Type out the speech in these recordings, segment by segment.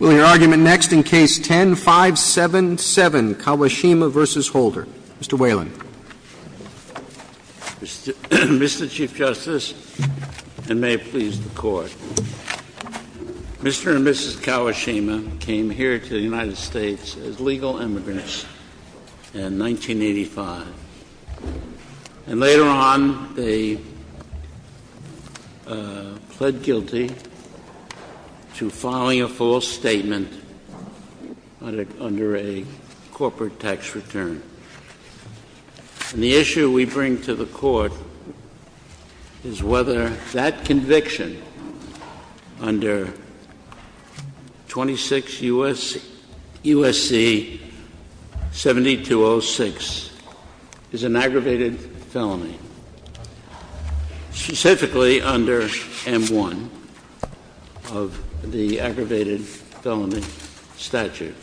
We'll hear argument next in Case 10-577, Kawashima v. Holder. Mr. Whelan. Mr. Chief Justice, and may it please the Court, Mr. and Mrs. Kawashima came here to the United States as legal immigrants in 1985. And later on, they pled guilty to filing a false statement under a corporate tax return. And the issue we bring to the Court is whether that conviction under 26 U.S.C. 7206 is an aggravated felony, specifically under M-1 of the aggravated felony statute.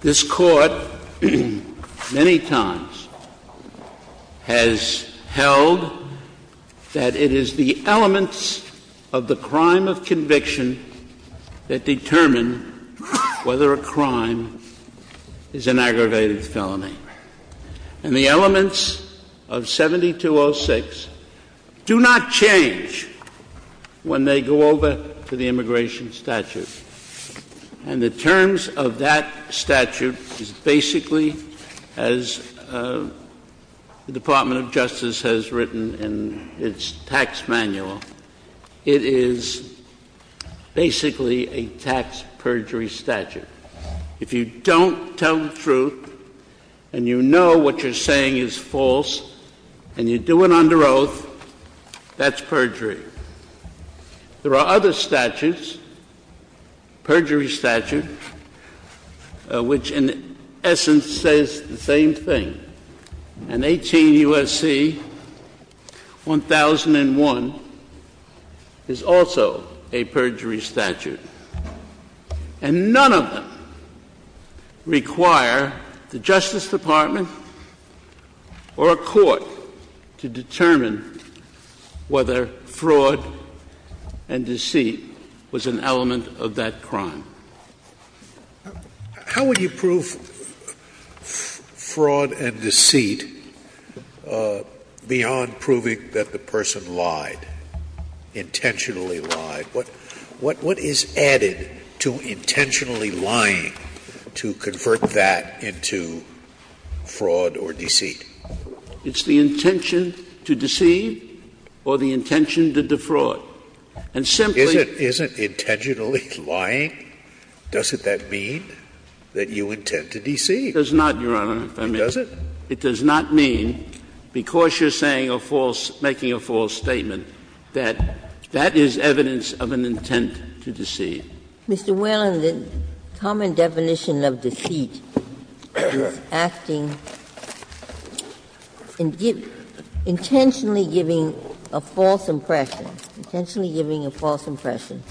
This Court, many times, has held that it is the elements of the crime of conviction that determine whether a crime is an aggravated felony. And the elements of 7206 do not change when they go over to the immigration statute. And the terms of that statute is basically, as the Department of Justice has written in its tax manual, it is basically a tax perjury statute. If you don't tell the truth, and you know what you're saying is false, and you do it under oath, that's perjury. There are other statutes, perjury statute, which in essence says the same thing. And 18 U.S.C. 1001 is also a perjury statute. And none of them require the Justice Department or a court to determine whether fraud and deceit was an element of that crime. How would you prove fraud and deceit beyond proving that the person lied, intentionally lied? What is added to intentionally lying to convert that into fraud or deceit? It's the intention to deceive or the intention to defraud. And simply — Isn't intentionally lying, doesn't that mean that you intend to deceive? It does not, Your Honor. It doesn't? It does not mean, because you're saying a false, making a false statement, that that is evidence of an intent to deceive. Mr. Whalen, the common definition of deceit is acting, intentionally giving a false impression, intentionally giving a false impression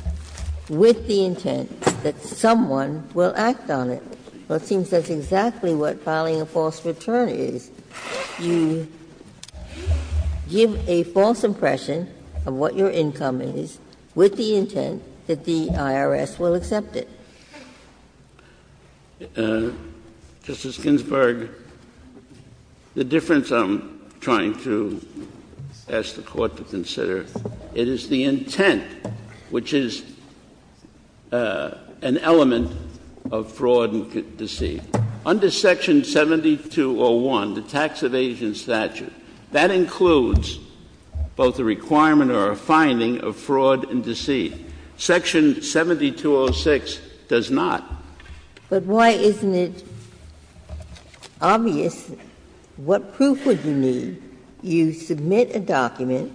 with the intent that someone will act on it. Well, it seems that's exactly what filing a false return is. You give a false impression of what your income is with the intent that the IRS will accept it. Justice Ginsburg, the difference I'm trying to ask the Court to consider, it is the Under Section 7201, the Tax Evasion Statute, that includes both a requirement or a finding of fraud and deceit. Section 7206 does not. But why isn't it obvious what proof would you need? You submit a document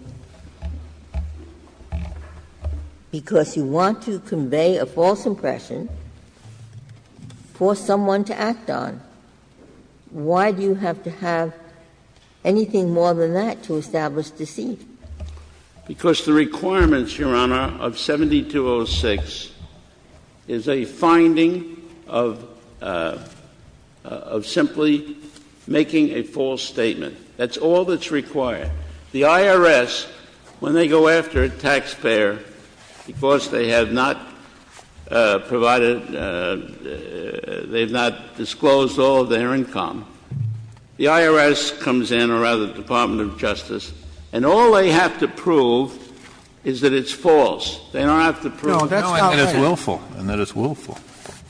because you want to convey a false impression for someone to act on. Why do you have to have anything more than that to establish deceit? Because the requirements, Your Honor, of 7206 is a finding of — of simply making a false statement. That's all that's required. The IRS, when they go after a taxpayer because they have not provided — they have not disclosed all of their income, the IRS comes in, or rather the Department of Justice, and all they have to prove is that it's false. They don't have to prove — No, that's not what I — No, and that it's willful. And that it's willful.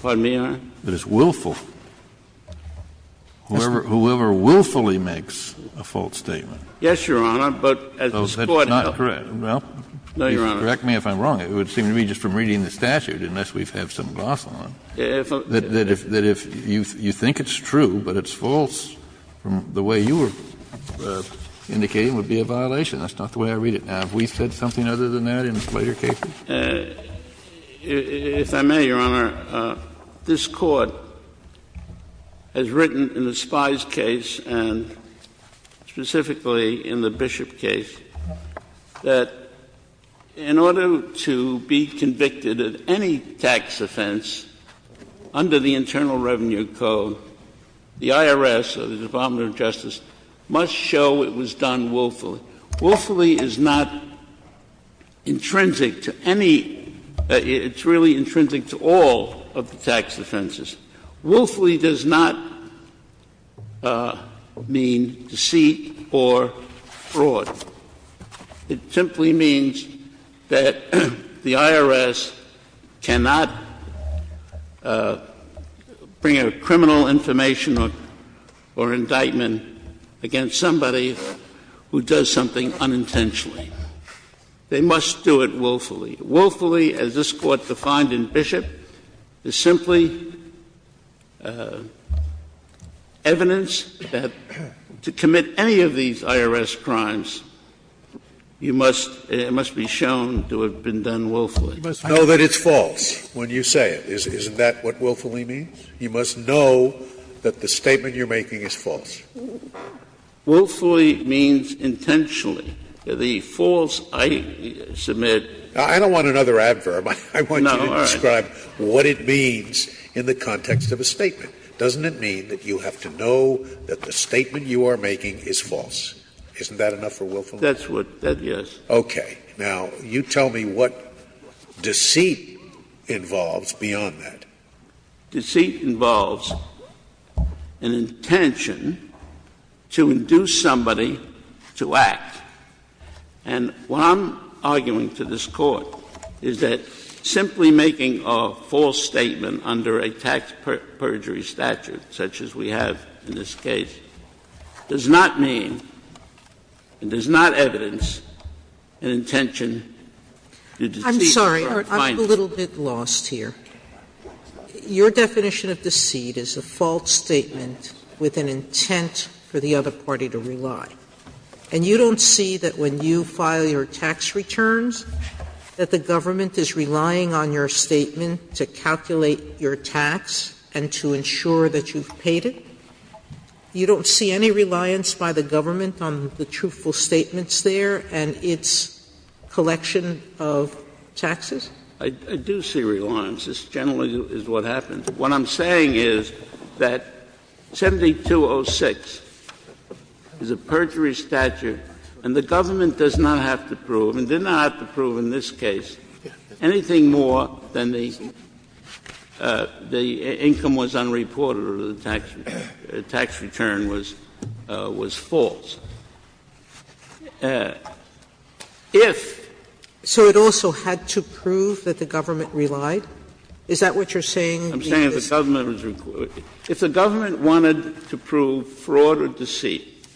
Pardon me, Your Honor? That it's willful. Whoever willfully makes a false statement. Yes, Your Honor, but as this Court held — Well, that's not correct. No, Your Honor. Correct me if I'm wrong. It would seem to me just from reading the statute, unless we have some gloss on it, that if you think it's true but it's false from the way you were indicating, it would be a violation. That's not the way I read it. Now, have we said something other than that in later cases? If I may, Your Honor, this Court has written in the Spies case and specifically in the Bishop case that in order to be convicted of any tax offense under the Internal Revenue Code, the IRS or the Department of Justice must show it was done willfully. Willfully is not intrinsic to any — it's really intrinsic to all of the tax offenses. Willfully does not mean deceit or fraud. It simply means that the IRS cannot bring a criminal information or indictment against somebody who does something unintentionally. They must do it willfully. Willfully, as this Court defined in Bishop, is simply evidence that to commit any of these You must — it must be shown to have been done willfully. You must know that it's false when you say it. Isn't that what willfully means? You must know that the statement you're making is false. Willfully means intentionally. The false I submit— I don't want another adverb. I want you to describe what it means in the context of a statement. Doesn't it mean that you have to know that the statement you are making is false? Isn't that enough for willfully? That's what — that, yes. Okay. Now, you tell me what deceit involves beyond that. Deceit involves an intention to induce somebody to act. And what I'm arguing to this Court is that simply making a false statement under a tax perjury statute, such as we have in this case, does not mean and does not evidence an intention to deceive— I'm sorry. I'm a little bit lost here. Your definition of deceit is a false statement with an intent for the other party to rely. And you don't see that when you file your tax returns, that the government is relying on your statement to calculate your tax and to ensure that you've paid it? You don't see any reliance by the government on the truthful statements there and its collection of taxes? I do see reliance. This generally is what happens. What I'm saying is that 7206 is a perjury statute, and the government does not have to prove, and did not have to prove in this case, anything more than the income was unreported or the tax return was false. If— So it also had to prove that the government relied? Is that what you're saying? I'm saying if the government was — if the government wanted to prove fraud or deceit,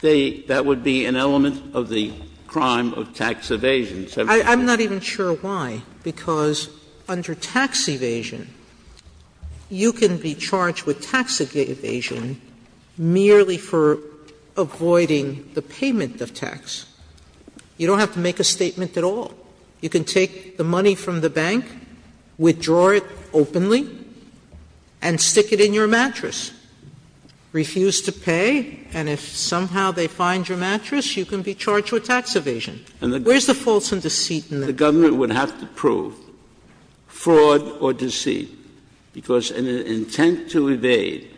that would be an element of the crime of tax evasion, 7206. I'm not even sure why, because under tax evasion, you can be charged with tax evasion merely for avoiding the payment of tax. You don't have to make a statement at all. You can take the money from the bank, withdraw it openly, and stick it in your mattress, refuse to pay, and if somehow they find your mattress, you can be charged with tax evasion. Where's the false and deceit in that? The government would have to prove fraud or deceit, because an intent to evade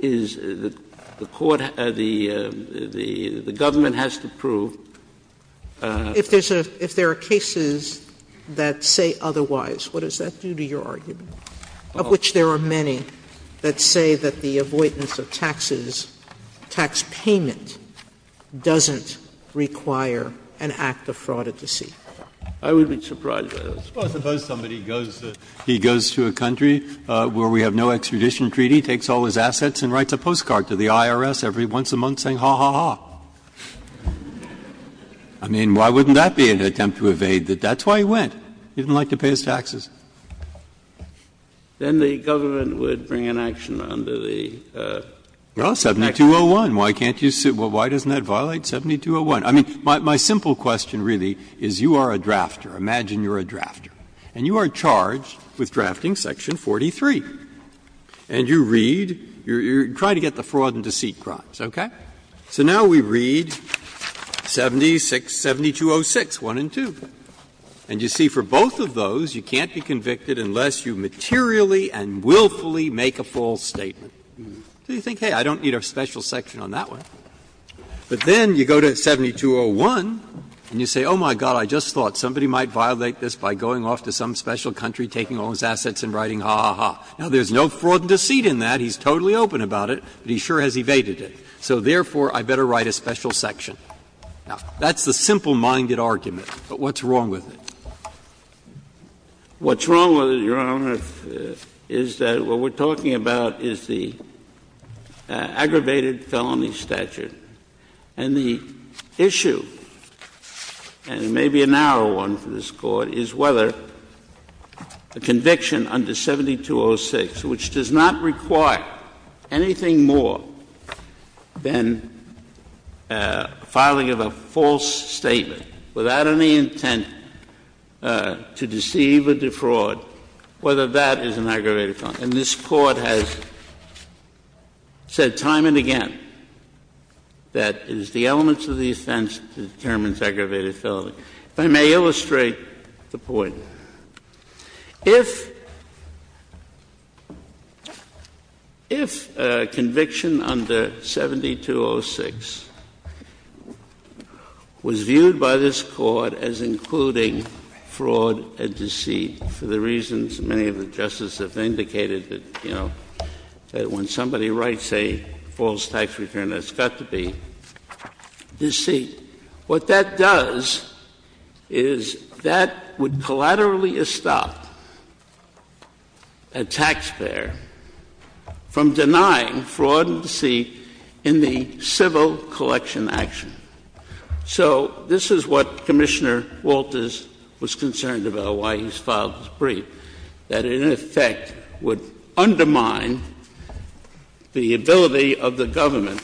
is the court — the government has to prove. If there's a — if there are cases that say otherwise, what does that do to your argument, of which there are many that say that the avoidance of taxes, tax payment, doesn't require an act of fraud or deceit? I would be surprised by that. Well, suppose somebody goes — he goes to a country where we have no extradition treaty, takes all his assets, and writes a postcard to the IRS every once a month saying, ha, ha, ha. I mean, why wouldn't that be an attempt to evade? That's why he went. He didn't like to pay his taxes. Then the government would bring an action under the Act. Well, 7201. Why can't you — why doesn't that violate 7201? I mean, my simple question, really, is you are a drafter. Imagine you're a drafter. And you are charged with drafting section 43. And you read — you try to get the fraud and deceit crimes, okay? So now we read 7206, 1 and 2. And you see for both of those, you can't be convicted unless you materially and willfully make a false statement. So you think, hey, I don't need a special section on that one. But then you go to 7201 and you say, oh, my God, I just thought somebody might violate this by going off to some special country, taking all his assets and writing, ha, ha, ha. Now, there's no fraud and deceit in that. He's totally open about it, but he sure has evaded it. So therefore, I better write a special section. Now, that's the simple-minded argument. But what's wrong with it? What's wrong with it, Your Honor, is that what we're talking about is the aggravated felony statute. And the issue, and it may be a narrow one for this Court, is whether a conviction under 7206, which does not require anything more than filing of a false statement without any intent to deceive or defraud, whether that is an aggravated felony. And this Court has said time and again that it is the elements of the offense that determines aggravated felony. If I may illustrate the point. If a conviction under 7206 was viewed by this Court as including fraud and deceit for the reasons many of the justices have indicated that, you know, that when somebody writes a false tax return, there's got to be deceit, what that does is that would collaterally stop a taxpayer from denying fraud and deceit in the civil collection action. So this is what Commissioner Walters was concerned about, why he filed this brief, that in effect would undermine the ability of the government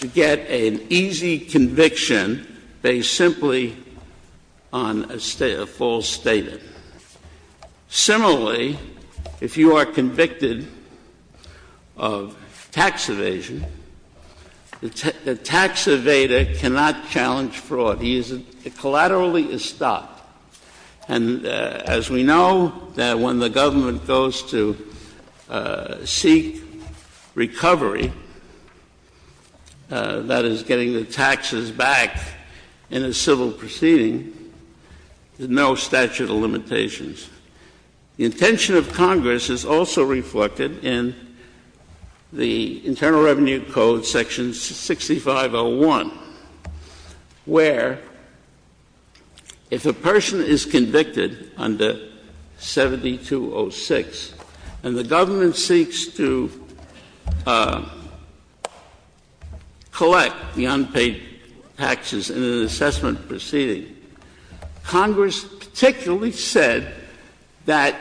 to get an easy conviction based simply on a false statement. Similarly, if you are convicted of tax evasion, the tax evader cannot challenge fraud. He is — it collaterally is stopped. And as we know, that when the government goes to seek recovery, that is getting the taxes back in a civil proceeding, there's no statute of limitations. The intention of Congress is also reflected in the Internal Revenue Code section 6501, where if a person is convicted under 7206 and the government seeks to collect the unpaid taxes in an assessment proceeding, Congress particularly said that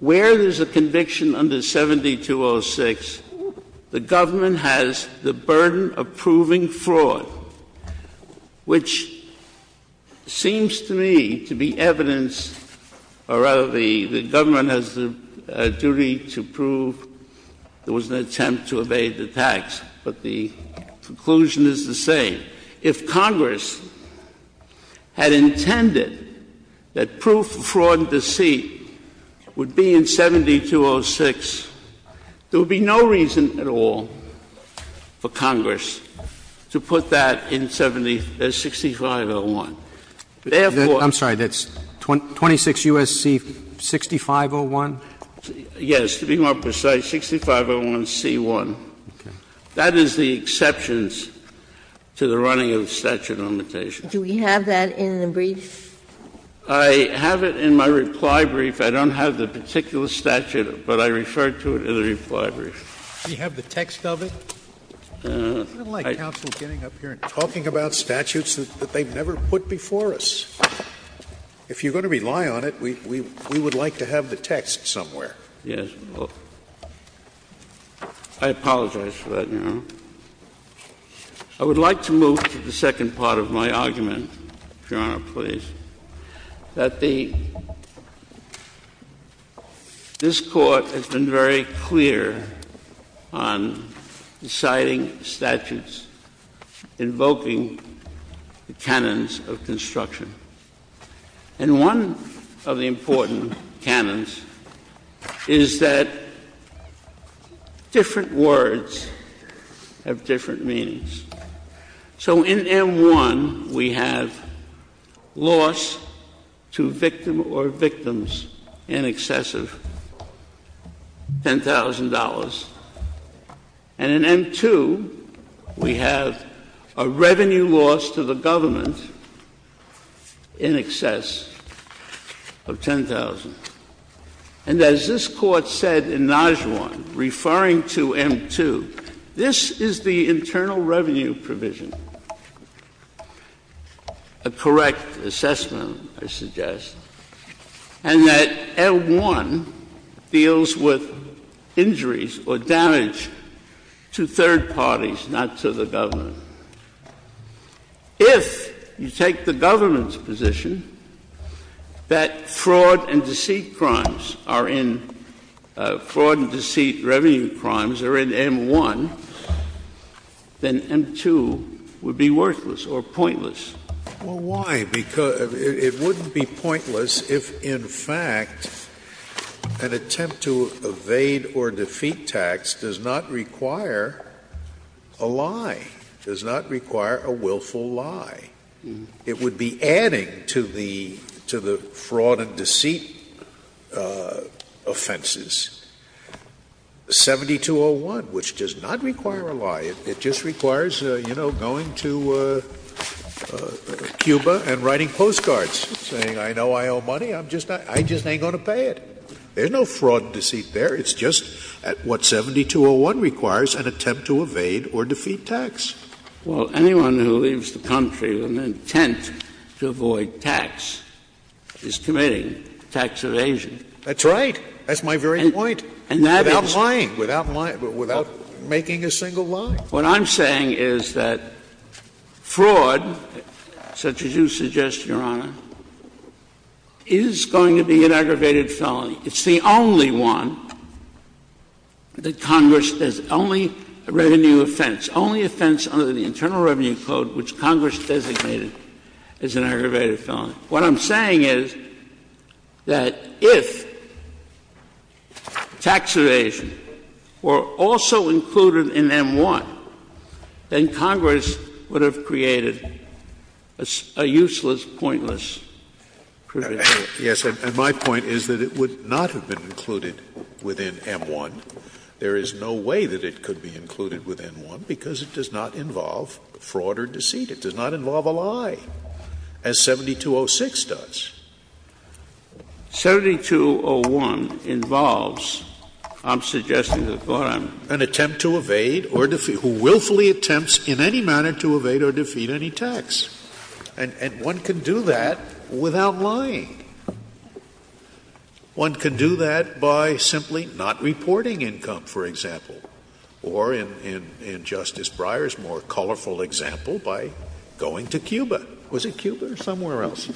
where there's a conviction under 7206, the government has the burden of proving fraud, which seems to me to be evidence, or rather the government has the duty to prove there was an attempt to evade the tax. But the conclusion is the same. If Congress had intended that proof of fraud and deceit would be in 7206, there would be no reason at all for Congress to put that in 7501. Therefore — I'm sorry. That's 26 U.S.C. 6501? Yes. To be more precise, 6501C1. Okay. That is the exceptions to the running of statute of limitations. Do we have that in the brief? I have it in my reply brief. I don't have the particular statute, but I referred to it in the reply brief. Do you have the text of it? No. I don't like counsel getting up here and talking about statutes that they've never put before us. If you're going to rely on it, we would like to have the text somewhere. Yes. I apologize for that, Your Honor. I would like to move to the second part of my argument, Your Honor, please, that the — this Court has been very clear on deciding statutes invoking the canons of instruction. And one of the important canons is that different words have different meanings. So in M1, we have loss to victim or victims in excess of $10,000. And in M2, we have a revenue loss to the government in excess of $10,000. And as this Court said in Najuan, referring to M2, this is the internal revenue provision, a correct assessment, I suggest. And that M1 deals with injuries or damage to third parties, not to the government. If you take the government's position that fraud and deceit crimes are in — fraud and deceit revenue crimes are in M1, then M2 would be worthless or pointless. Well, why? Because — it wouldn't be pointless if, in fact, an attempt to evade or defeat tax does not require a lie, does not require a willful lie. It would be adding to the — to the fraud and deceit offenses. 7201, which does not require a lie. It just requires, you know, going to Cuba and writing postcards saying, I know I owe money, I'm just not — I just ain't going to pay it. There's no fraud and deceit there. It's just what 7201 requires, an attempt to evade or defeat tax. Well, anyone who leaves the country with an intent to avoid tax is committing tax evasion. That's right. That's my very point. And that is— Without lying, without making a single lie. What I'm saying is that fraud, such as you suggest, Your Honor, is going to be an aggravated felony. It's the only one that Congress — only revenue offense, only offense under the Internal Revenue Code which Congress designated as an aggravated felony. What I'm saying is that if tax evasion were also included in M-1, then Congress would have created a useless, pointless provision. Yes. And my point is that it would not have been included within M-1. There is no way that it could be included within M-1 because it does not involve fraud or deceit. It does not involve a lie, as 7206 does. 7201 involves, I'm suggesting, Your Honor, an attempt to evade or — who willfully attempts in any manner to evade or defeat any tax. And one can do that without lying. One can do that by simply not reporting income, for example, or in Justice Breyer's more colorful example, by going to Cuba. Was it Cuba or somewhere else?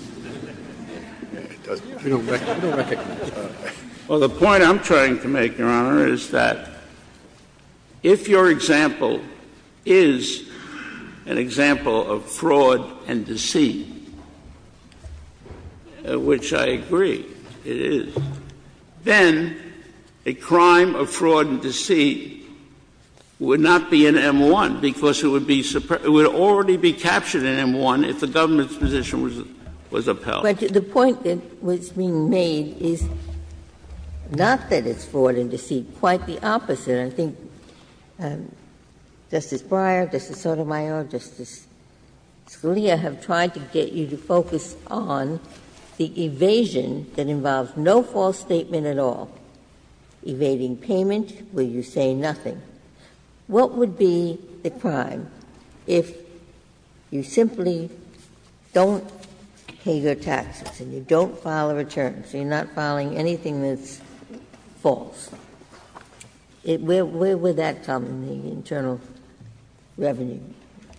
I don't recognize that. Well, the point I'm trying to make, Your Honor, is that if your example is an example of fraud and deceit, which I agree it is, then a crime of fraud and deceit would not be in M-1 because it would be — it would already be captured in M-1 if the government's position was upheld. But the point that was being made is not that it's fraud and deceit. Quite the opposite. I think Justice Breyer, Justice Sotomayor, Justice Scalia have tried to get you to focus on the evasion that involves no false statement at all. Evading payment where you say nothing. What would be the crime if you simply don't pay your taxes and you don't file a return, so you're not filing anything that's false? Where would that come, the internal revenue?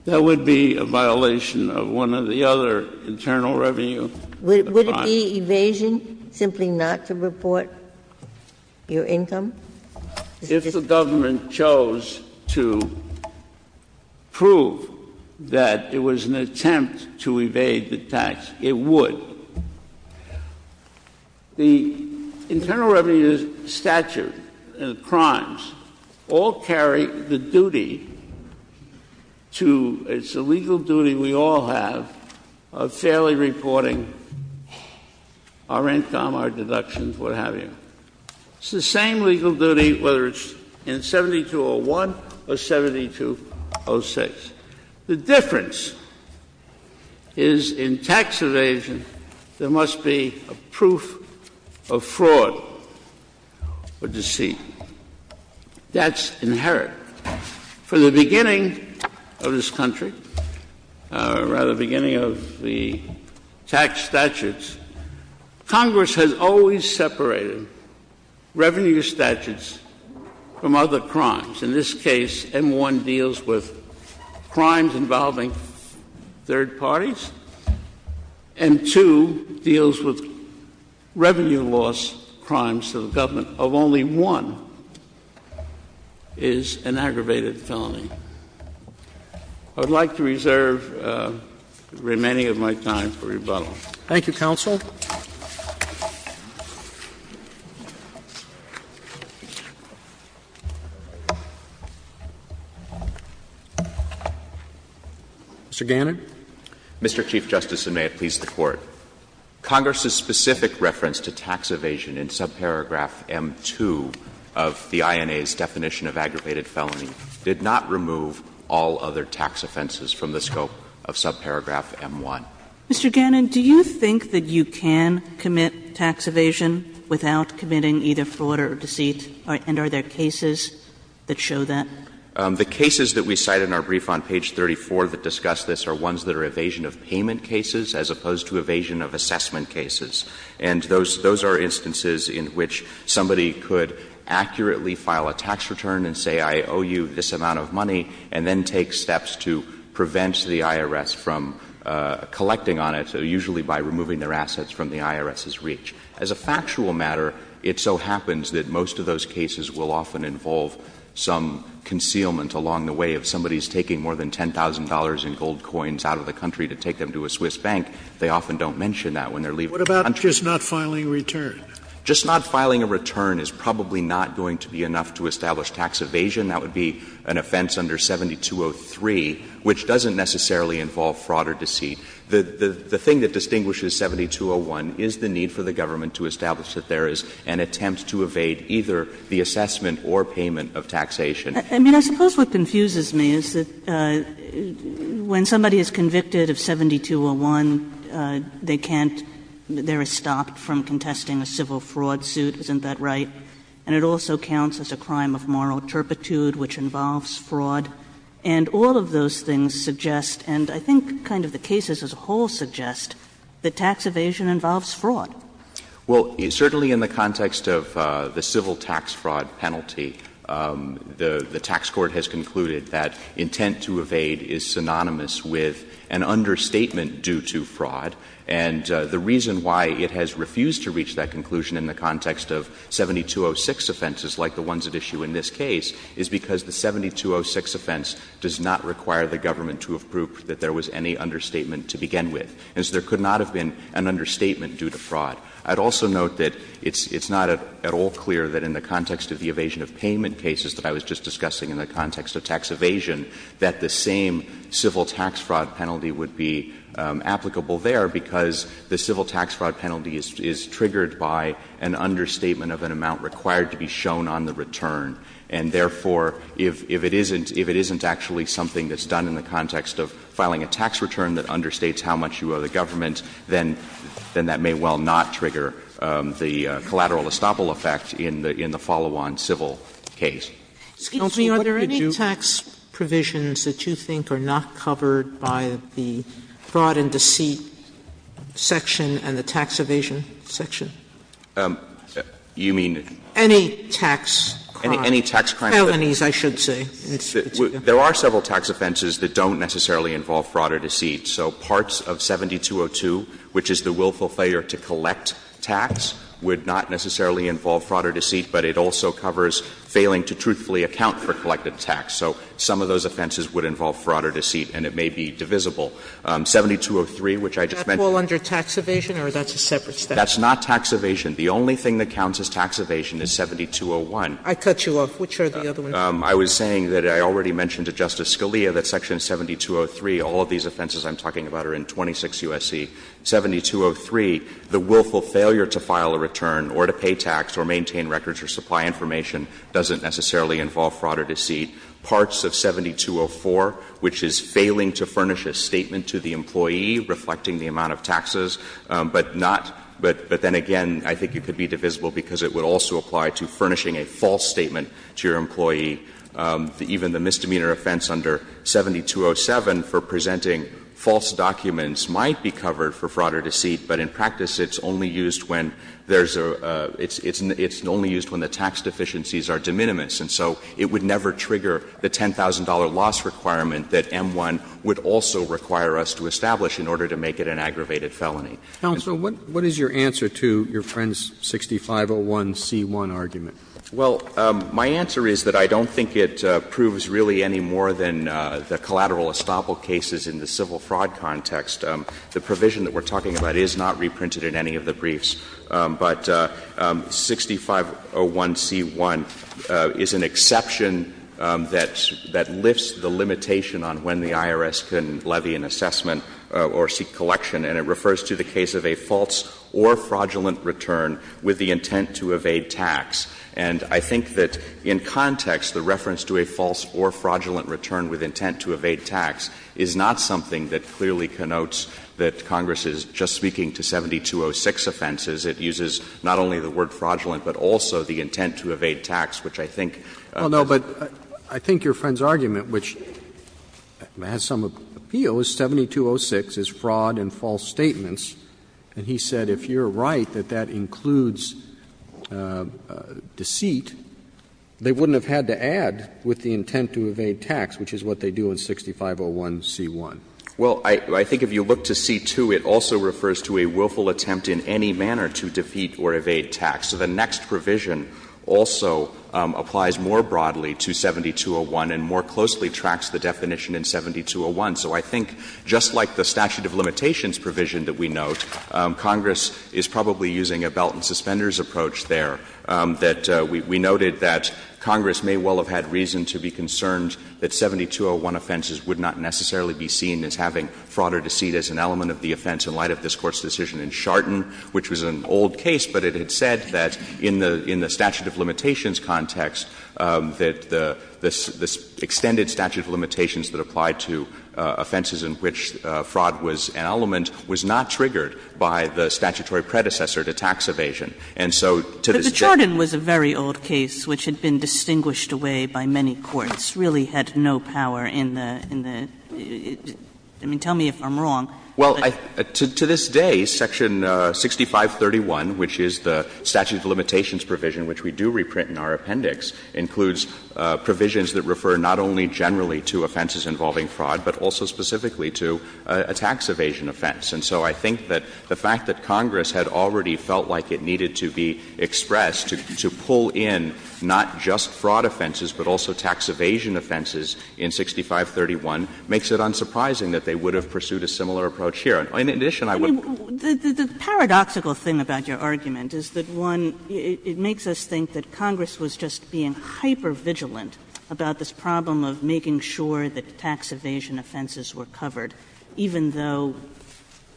That would be a violation of one of the other internal revenue. Would it be evasion simply not to report your income? If the government chose to prove that it was an attempt to evade the tax, it would. The internal revenue statute and the crimes all carry the duty to — it's a legal duty we all have of fairly reporting our income, our deductions, what have you. It's the same legal duty whether it's in 7201 or 7206. The difference is in tax evasion there must be a proof of fraud or deceit. That's inherent. From the beginning of this country, or rather the beginning of the tax statutes, Congress has always separated revenue statutes from other crimes. In this case, M-1 deals with crimes involving third parties. M-2 deals with revenue loss crimes to the government of only one is an aggravated felony. I would like to reserve the remaining of my time for rebuttal. Thank you, counsel. Mr. Gannon. Mr. Chief Justice, and may it please the Court. Congress's specific reference to tax evasion in subparagraph M-2 of the INA's definition of aggravated felony did not remove all other tax offenses from the scope of subparagraph M-1. Mr. Gannon, do you think that you can commit tax evasion without committing either fraud or deceit, and are there cases that show that? The cases that we cite in our brief on page 34 that discuss this are ones that are evasion of payment cases as opposed to evasion of assessment cases. And those are instances in which somebody could accurately file a tax return and say, I owe you this amount of money, and then take steps to prevent the IRS from collecting on it, usually by removing their assets from the IRS's reach. As a factual matter, it so happens that most of those cases will often involve some concealment along the way of somebody's taking more than $10,000 in gold coins out of the country to take them to a Swiss bank. They often don't mention that when they're leaving the country. What about just not filing a return? Just not filing a return is probably not going to be enough to establish tax evasion. That would be an offense under 7203, which doesn't necessarily involve fraud or deceit. The thing that distinguishes 7201 is the need for the government to establish that there is an attempt to evade either the assessment or payment of taxation. I mean, I suppose what confuses me is that when somebody is convicted of 7201, they can't, they're stopped from contesting a civil fraud suit, isn't that right? And it also counts as a crime of moral turpitude, which involves fraud. And all of those things suggest, and I think kind of the cases as a whole suggest, that tax evasion involves fraud. Well, certainly in the context of the civil tax fraud penalty, the tax court has concluded that intent to evade is synonymous with an understatement due to fraud. And the reason why it has refused to reach that conclusion in the context of 7206 offenses, like the ones at issue in this case, is because the 7206 offense does not require the government to have proved that there was any understatement to begin with. And so there could not have been an understatement due to fraud. I'd also note that it's not at all clear that in the context of the evasion of payment cases that I was just discussing, in the context of tax evasion, that the same civil tax fraud penalty would be applicable there, because the civil tax fraud penalty is triggered by an understatement of an amount required to be shown on the return. And therefore, if it isn't, if it isn't actually something that's done in the context of filing a tax return that understates how much you owe the government, then that may well not trigger the collateral estoppel effect in the follow-on civil case. Sotomayor, are there any tax provisions that you think are not covered by the fraud and deceit section and the tax evasion section? You mean? Any tax crime. Any tax crime. Penalties, I should say. There are several tax offenses that don't necessarily involve fraud or deceit. So parts of 7202, which is the willful failure to collect tax, would not necessarily involve fraud or deceit, but it also covers failing to truthfully account for collective tax. So some of those offenses would involve fraud or deceit, and it may be divisible. 7203, which I just mentioned — Is that all under tax evasion, or that's a separate statute? That's not tax evasion. The only thing that counts as tax evasion is 7201. I cut you off. Which are the other ones? I was saying that I already mentioned to Justice Scalia that section 7203, all of these offenses I'm talking about are in 26 U.S.C. 7203, the willful failure to file a return or to pay tax or maintain records or supply information doesn't necessarily involve fraud or deceit. Parts of 7204, which is failing to furnish a statement to the employee reflecting the amount of taxes, but not — but then again, I think it could be divisible because it would also apply to furnishing a false statement to your employee. Even the misdemeanor offense under 7207 for presenting false documents might be covered for fraud or deceit, but in practice it's only used when there's a — it's only used when the tax deficiencies are de minimis, and so it would never trigger the $10,000 loss requirement that M1 would also require us to establish in order to make it an aggravated felony. Counsel, what is your answer to your friend's 6501c1 argument? Well, my answer is that I don't think it proves really any more than the collateral estoppel cases in the civil fraud context. The provision that we're talking about is not reprinted in any of the briefs, but 6501c1 is an exception that — that lifts the limitation on when the IRS can levy an assessment or seek collection, and it refers to the case of a false or fraudulent return with the intent to evade tax. And I think that in context, the reference to a false or fraudulent return with intent to evade tax is not something that clearly connotes that Congress is just speaking to 7206 offenses. It uses not only the word fraudulent, but also the intent to evade tax, which I think doesn't. Well, no, but I think your friend's argument, which has some appeal, is 7206 is fraud and false statements. And he said if you're right that that includes deceit, they wouldn't have had to add with the intent to evade tax, which is what they do in 6501c1. Well, I think if you look to c2, it also refers to a willful attempt in any manner to defeat or evade tax. So the next provision also applies more broadly to 7201 and more closely tracks the definition in 7201. So I think just like the statute of limitations provision that we note, Congress is probably using a belt and suspenders approach there, that we noted that Congress may well have had reason to be concerned that 7201 offenses would not necessarily be seen as having fraud or deceit as an element of the offense in light of this Court's decision in Chardon, which was an old case, but it had said that in the statute of limitations context that the extended statute of limitations that applied to offenses in which fraud was an element was not triggered by the statutory predecessor to tax evasion. And so to this day the statute of limitations does not apply to fraud or deceit. And so the fact that the statute of limitations was pushed away by many courts really had no power in the — I mean, tell me if I'm wrong. Well, to this day, section 6531, which is the statute of limitations provision which we do reprint in our appendix, includes provisions that refer not only generally to offenses involving fraud, but also specifically to a tax evasion offense. And so I think that the fact that Congress had already felt like it needed to be expressed to pull in not just fraud offenses, but also tax evasion offenses in 6531 makes it unsurprising that they would have pursued a similar approach here. In addition, I would — Kagan. The paradoxical thing about your argument is that, one, it makes us think that Congress was just being hypervigilant about this problem of making sure that tax evasion offenses were covered, even though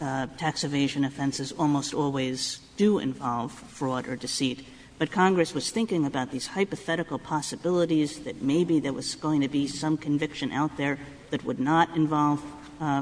tax evasion offenses almost always do involve fraud or deceit. But Congress was thinking about these hypothetical possibilities that maybe there was going to be some conviction out there that would not involve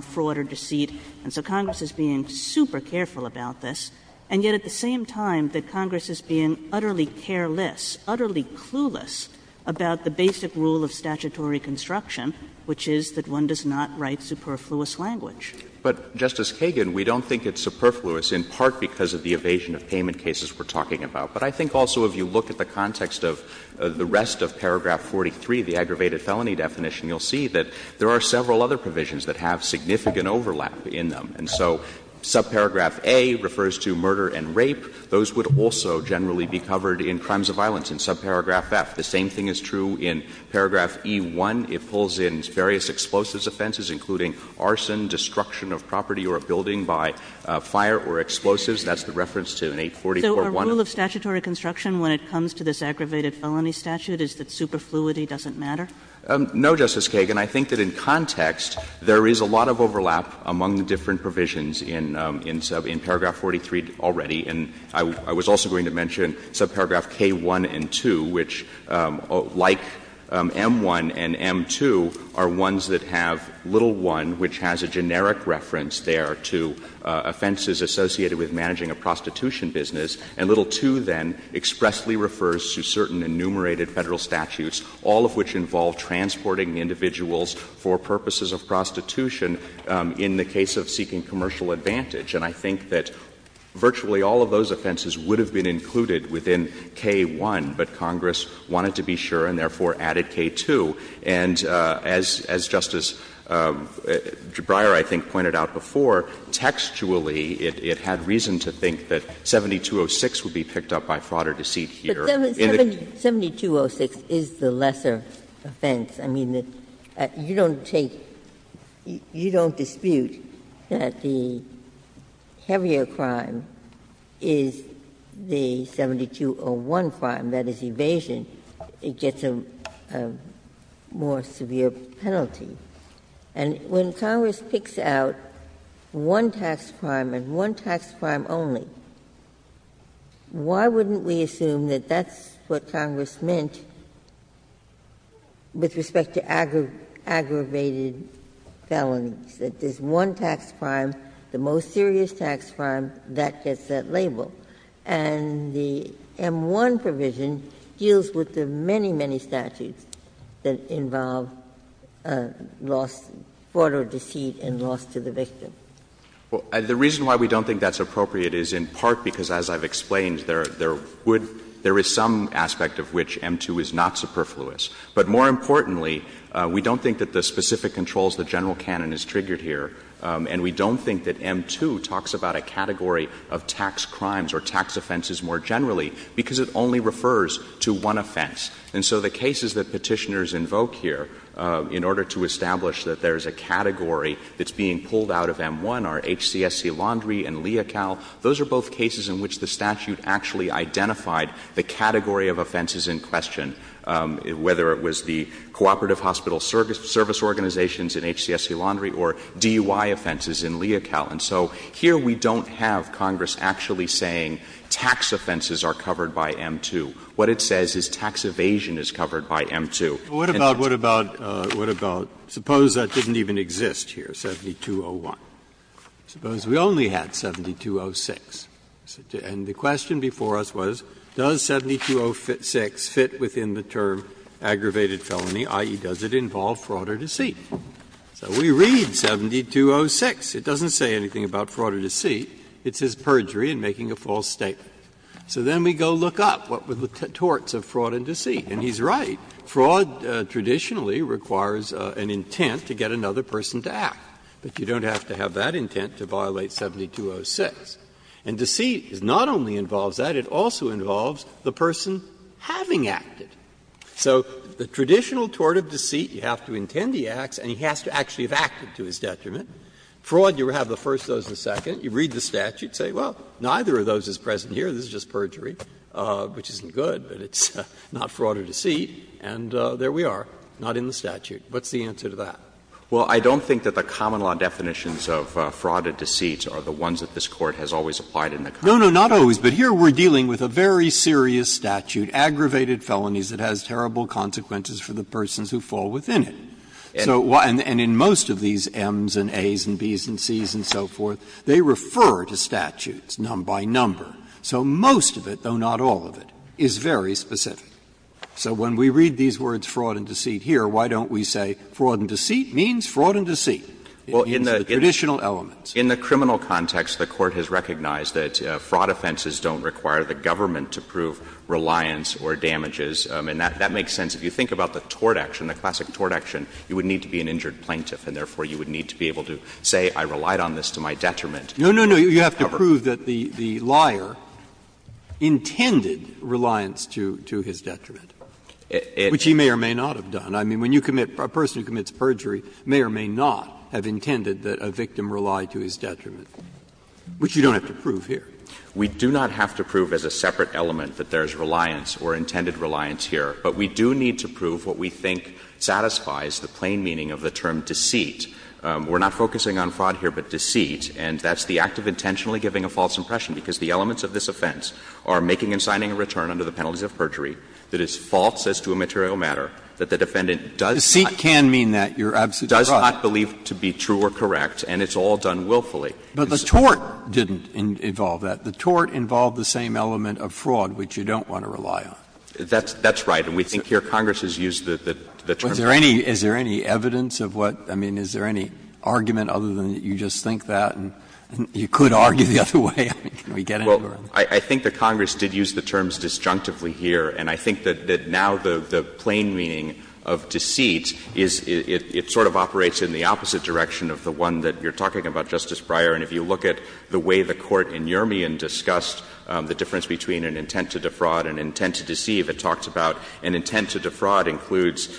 fraud or deceit. And so Congress is being super careful about this. And yet at the same time that Congress is being utterly careless, utterly clueless about the basic rule of statutory construction, which is that one does not write superfluous language. But, Justice Kagan, we don't think it's superfluous in part because of the evasion of payment cases we're talking about. But I think also if you look at the context of the rest of paragraph 43, the aggravated felony definition, you'll see that there are several other provisions that have significant overlap in them. And so subparagraph A refers to murder and rape. Those would also generally be covered in crimes of violence. In subparagraph F, the same thing is true in paragraph E-1. It pulls in various explosives offenses, including arson, destruction of property or a building by fire or explosives. That's the reference to an 844-1. Kagan. So a rule of statutory construction when it comes to this aggravated felony statute is that superfluity doesn't matter? No, Justice Kagan. I think that in context, there is a lot of overlap among the different provisions in paragraph 43 already. And I was also going to mention subparagraph K-1 and 2, which, like M-1 and M-2, are ones that have little 1, which has a generic reference there to offenses associated with managing a prostitution business. And little 2 then expressly refers to certain enumerated Federal statutes, all of which involve transporting individuals for purposes of prostitution in the case of seeking commercial advantage. And I think that virtually all of those offenses would have been included within K-1, but Congress wanted to be sure and therefore added K-2. And as Justice Breyer, I think, pointed out before, textually it had reason to think that 7206 would be picked up by fraud or deceit here. But 7206 is the lesser offense. I mean, you don't take — you don't dispute that the heavier crime is the 7201 crime, that is, evasion. It gets a more severe penalty. And when Congress picks out one tax crime and one tax crime only, why wouldn't we assume that that's what Congress meant with respect to aggravated felonies, that there's one tax crime, the most serious tax crime, that gets that label. And the M-1 provision deals with the many, many statutes that involve loss, fraud or deceit and loss to the victim. Well, the reason why we don't think that's appropriate is in part because, as I've explained, there would — there is some aspect of which M-2 is not superfluous. But more importantly, we don't think that the specific controls the general canon is triggered here, and we don't think that M-2 talks about a category of tax crimes or tax offenses more generally, because it only refers to one offense. And so the cases that Petitioners invoke here, in order to establish that there's a category that's being pulled out of M-1 are HCSC Laundrie and Leocal, those are both cases in which the statute actually identified the category of offenses in question, whether it was the cooperative hospital service organizations in HCSC Laundrie or DUI offenses in Leocal. And so here we don't have Congress actually saying tax offenses are covered by M-2. What it says is tax evasion is covered by M-2. Breyer, what about, what about, what about — suppose that didn't even exist here, 7201. Suppose we only had 7206. And the question before us was, does 7206 fit within the term aggravated felony, i.e., does it involve fraud or deceit? So we read 7206. It doesn't say anything about fraud or deceit. It's his perjury in making a false statement. So then we go look up what were the torts of fraud and deceit. And he's right. Fraud traditionally requires an intent to get another person to act. But you don't have to have that intent to violate 7206. And deceit not only involves that, it also involves the person having acted. So the traditional tort of deceit, you have to intend the acts and he has to actually have acted to his detriment. Fraud, you have the first, those the second. You read the statute, say, well, neither of those is present here, this is just perjury, which isn't good, but it's not fraud or deceit. And there we are, not in the statute. What's the answer to that? Well, I don't think that the common law definitions of fraud or deceit are the ones that this Court has always applied in the current case. No, no, not always. But here we're dealing with a very serious statute, aggravated felonies, that has terrible consequences for the persons who fall within it. And in most of these Ms and As and Bs and Cs and so forth, they refer to statutes by number. So most of it, though not all of it, is very specific. So when we read these words fraud and deceit here, why don't we say fraud and deceit means fraud and deceit. It means the traditional elements. In the criminal context, the Court has recognized that fraud offenses don't require the government to prove reliance or damages. And that makes sense. If you think about the tort action, the classic tort action, you would need to be an injured plaintiff, and therefore you would need to be able to say I relied on this to my detriment. No, no, no. You have to prove that the liar intended reliance to his detriment, which he may or may not have done. I mean, when you commit — a person who commits perjury may or may not have intended that a victim rely to his detriment, which you don't have to prove here. We do not have to prove as a separate element that there is reliance or intended reliance here. But we do need to prove what we think satisfies the plain meaning of the term deceit. We're not focusing on fraud here, but deceit, and that's the act of intentionally giving a false impression, because the elements of this offense are making and signing a return under the penalties of perjury that is false as to a material matter, that the defendant does not — Deceit can mean that. You're absolutely right. Does not believe to be true or correct, and it's all done willfully. But the tort didn't involve that. The tort involved the same element of fraud, which you don't want to rely on. That's right. And we think here Congress has used the term — Is there any evidence of what — I mean, is there any argument other than you just think that, and you could argue the other way? I mean, can we get anywhere on that? Well, I think that Congress did use the terms disjunctively here, and I think that now the plain meaning of deceit is — it sort of operates in the opposite direction of the one that you're talking about, Justice Breyer. And if you look at the way the Court in Urmian discussed the difference between an intent to defraud, an intent to deceive, it talks about an intent to defraud includes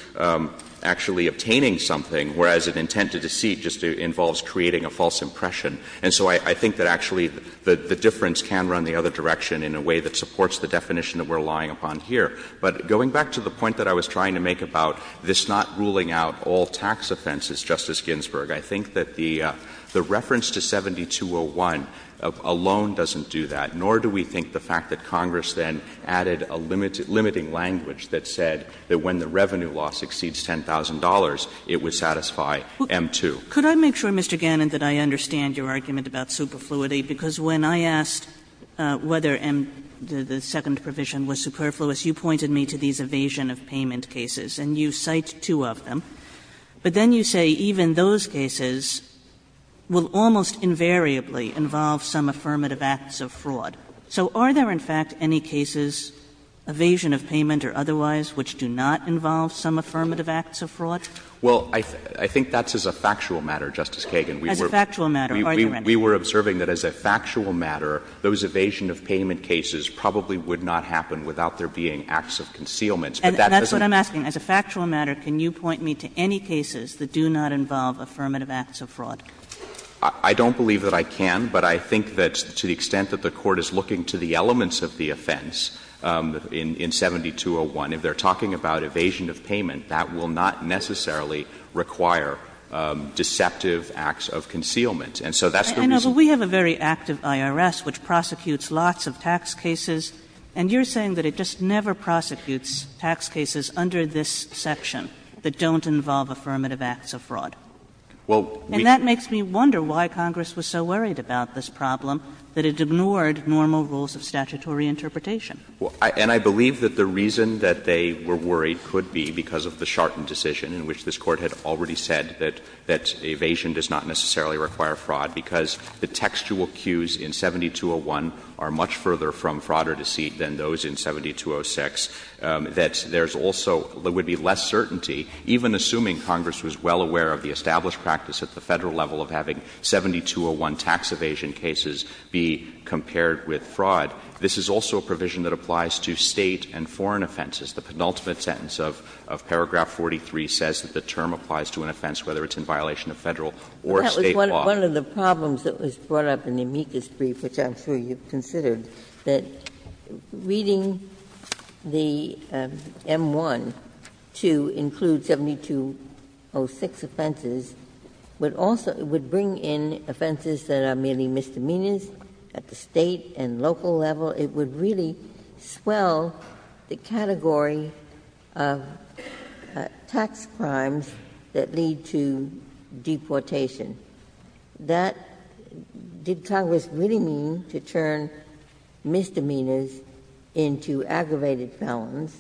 actually obtaining something, whereas an intent to deceive just involves creating a false impression. And so I think that actually the difference can run the other direction in a way that supports the definition that we're relying upon here. But going back to the point that I was trying to make about this not ruling out all tax offenses, Justice Ginsburg, I think that the reference to 7201 alone doesn't do that, nor do we think the fact that Congress then added a limiting language that said that when the revenue loss exceeds $10,000, it would satisfy M-2. Kagan. Could I make sure, Mr. Gannon, that I understand your argument about superfluity? Because when I asked whether the second provision was superfluous, you pointed me to these evasion-of-payment cases, and you cite two of them. But then you say even those cases will almost invariably involve some affirmative acts of fraud. So are there, in fact, any cases, evasion-of-payment or otherwise, which do not involve some affirmative acts of fraud? Well, I think that's as a factual matter, Justice Kagan. As a factual matter. Are there any? We were observing that as a factual matter, those evasion-of-payment cases probably would not happen without there being acts of concealment. But that doesn't mean that's a factual matter. And that's what I'm asking. As a factual matter, can you point me to any cases that do not involve affirmative acts of fraud? I don't believe that I can, but I think that to the extent that the Court is looking to the elements of the offense in 7201, if they're talking about evasion-of-payment, that will not necessarily require deceptive acts of concealment. And so that's the reason. I know, but we have a very active IRS which prosecutes lots of tax cases, and you're saying that it just never prosecutes tax cases under this section that don't involve affirmative acts of fraud. Well, we And that makes me wonder why Congress was so worried about this problem that it ignored normal rules of statutory interpretation. And I believe that the reason that they were worried could be because of the Charton decision in which this Court had already said that evasion does not necessarily require fraud, because the textual cues in 7201 are much further from fraud or deceit than those in 7206, that there's also — there would be less certainty, even assuming Congress was well aware of the established practice at the Federal level of having 7201 tax evasion cases be compared with fraud. This is also a provision that applies to State and foreign offenses. The penultimate sentence of paragraph 43 says that the term applies to an offense whether it's in violation of Federal or State law. Ginsburg. That was one of the problems that was brought up in the amicus brief, which I'm sure you've considered, that reading the M-1 to include 7206 offenses would also — would bring in offenses that are merely misdemeanors at the State and local level. It would really swell the category of tax crimes that lead to deportation. That — did Congress really mean to turn misdemeanors into aggravated felons?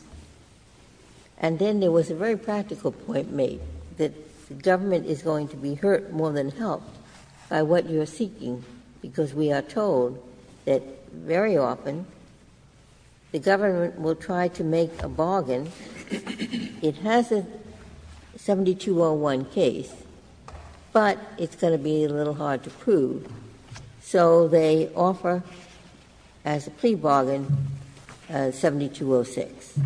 And then there was a very practical point made, that the government is going to be hurt more than helped by what you're seeking, because we are told that very often the government will try to make a bargain. It has a 7201 case, but it's going to be a little hard to prove, so they offer as a plea bargain 7206.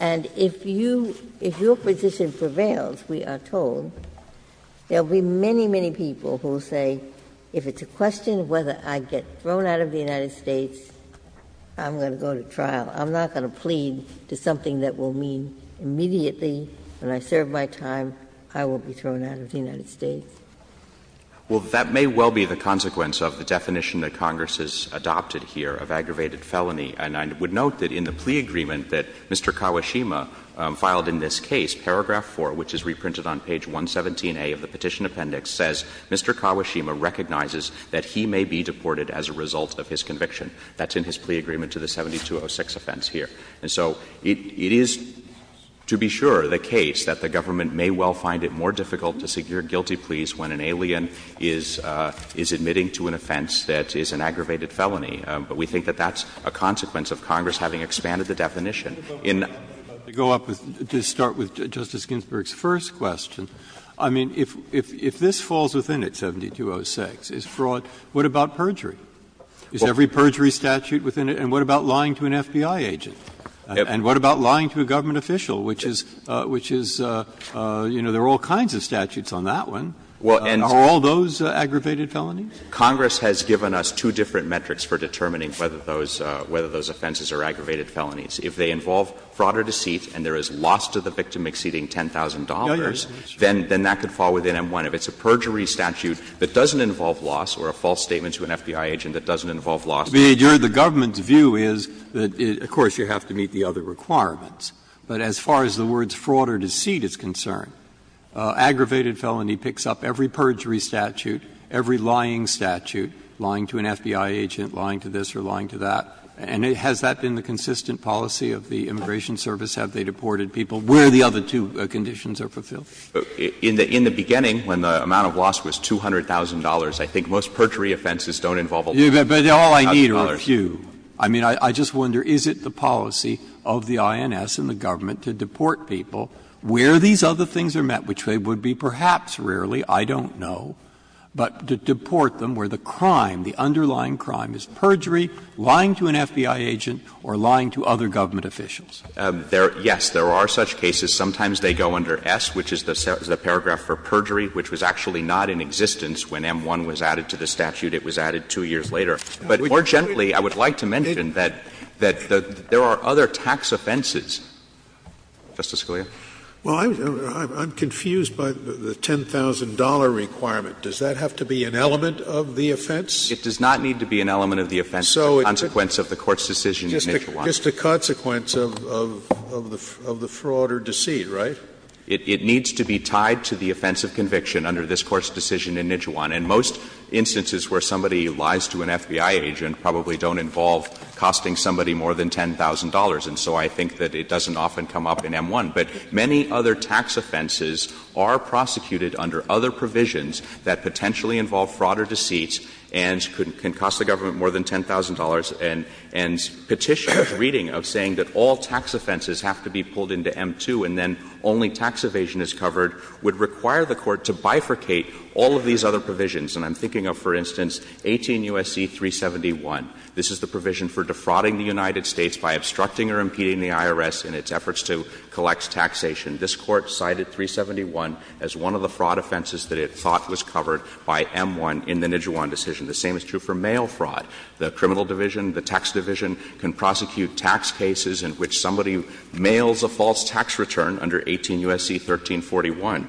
And if you — if your position prevails, we are told, there will be many, many people who will say, if it's a question of whether I get thrown out of the United States, I'm going to go to trial. I'm not going to plead to something that will mean immediately, when I serve my time, I will be thrown out of the United States. Well, that may well be the consequence of the definition that Congress has adopted here of aggravated felony. And I would note that in the plea agreement that Mr. Kawashima filed in this case, paragraph 4, which is reprinted on page 117A of the Petition Appendix, says Mr. Kawashima recognizes that he may be deported as a result of his conviction. That's in his plea agreement to the 7206 offense here. And so it is, to be sure, the case that the government may well find it more difficult to secure guilty pleas when an alien is — is admitting to an offense that is an aggravated felony. But we think that that's a consequence of Congress having expanded the definition in— Breyer, to go up with — to start with Justice Ginsburg's first question, I mean, if — if this falls within it, 7206, is fraud, what about perjury? Is every perjury statute within it? And what about lying to an FBI agent? And what about lying to a government official, which is — which is, you know, there are all kinds of statutes on that one. Are all those aggravated felonies? Congress has given us two different metrics for determining whether those — whether those offenses are aggravated felonies. If they involve fraud or deceit and there is loss to the victim exceeding $10,000, then that could fall within M1. If it's a perjury statute that doesn't involve loss or a false statement to an FBI agent that doesn't involve loss— Breyer, the government's view is that, of course, you have to meet the other requirements. But as far as the words fraud or deceit is concerned, aggravated felony picks up every perjury statute, every lying statute, lying to an FBI agent, lying to this or lying to that, and has that been the consistent policy of the Immigration Service? Have they deported people where the other two conditions are fulfilled? In the beginning, when the amount of loss was $200,000, I think most perjury offenses don't involve a loss of $200,000. Breyer, but all I need are a few. I mean, I just wonder, is it the policy of the INS and the government to deport people where these other things are met, which they would be perhaps rarely, I don't know, but to deport them where the crime, the underlying crime is perjury, lying to an FBI agent, or lying to other government officials? Yes, there are such cases. Sometimes they go under S, which is the paragraph for perjury, which was actually not in existence when M-1 was added to the statute. It was added two years later. But more generally, I would like to mention that there are other tax offenses. Justice Scalia? Well, I'm confused by the $10,000 requirement. Does that have to be an element of the offense? It does not need to be an element of the offense. It's a consequence of the Court's decision in the initial one. Just a consequence of the fraud or deceit, right? It needs to be tied to the offense of conviction under this Court's decision in Nijhuan. And most instances where somebody lies to an FBI agent probably don't involve costing somebody more than $10,000, and so I think that it doesn't often come up in M-1. But many other tax offenses are prosecuted under other provisions that potentially involve fraud or deceit and can cost the government more than $10,000, and Petitioner's reading of saying that all tax offenses have to be pulled into M-2 and then only tax evasion is covered would require the Court to bifurcate all of these other provisions. And I'm thinking of, for instance, 18 U.S.C. 371. This is the provision for defrauding the United States by obstructing or impeding the IRS in its efforts to collect taxation. This Court cited 371 as one of the fraud offenses that it thought was covered by M-1 in the Nijhuan decision. The same is true for mail fraud. The criminal division, the tax division, can prosecute tax cases in which somebody mails a false tax return under 18 U.S.C. 1341,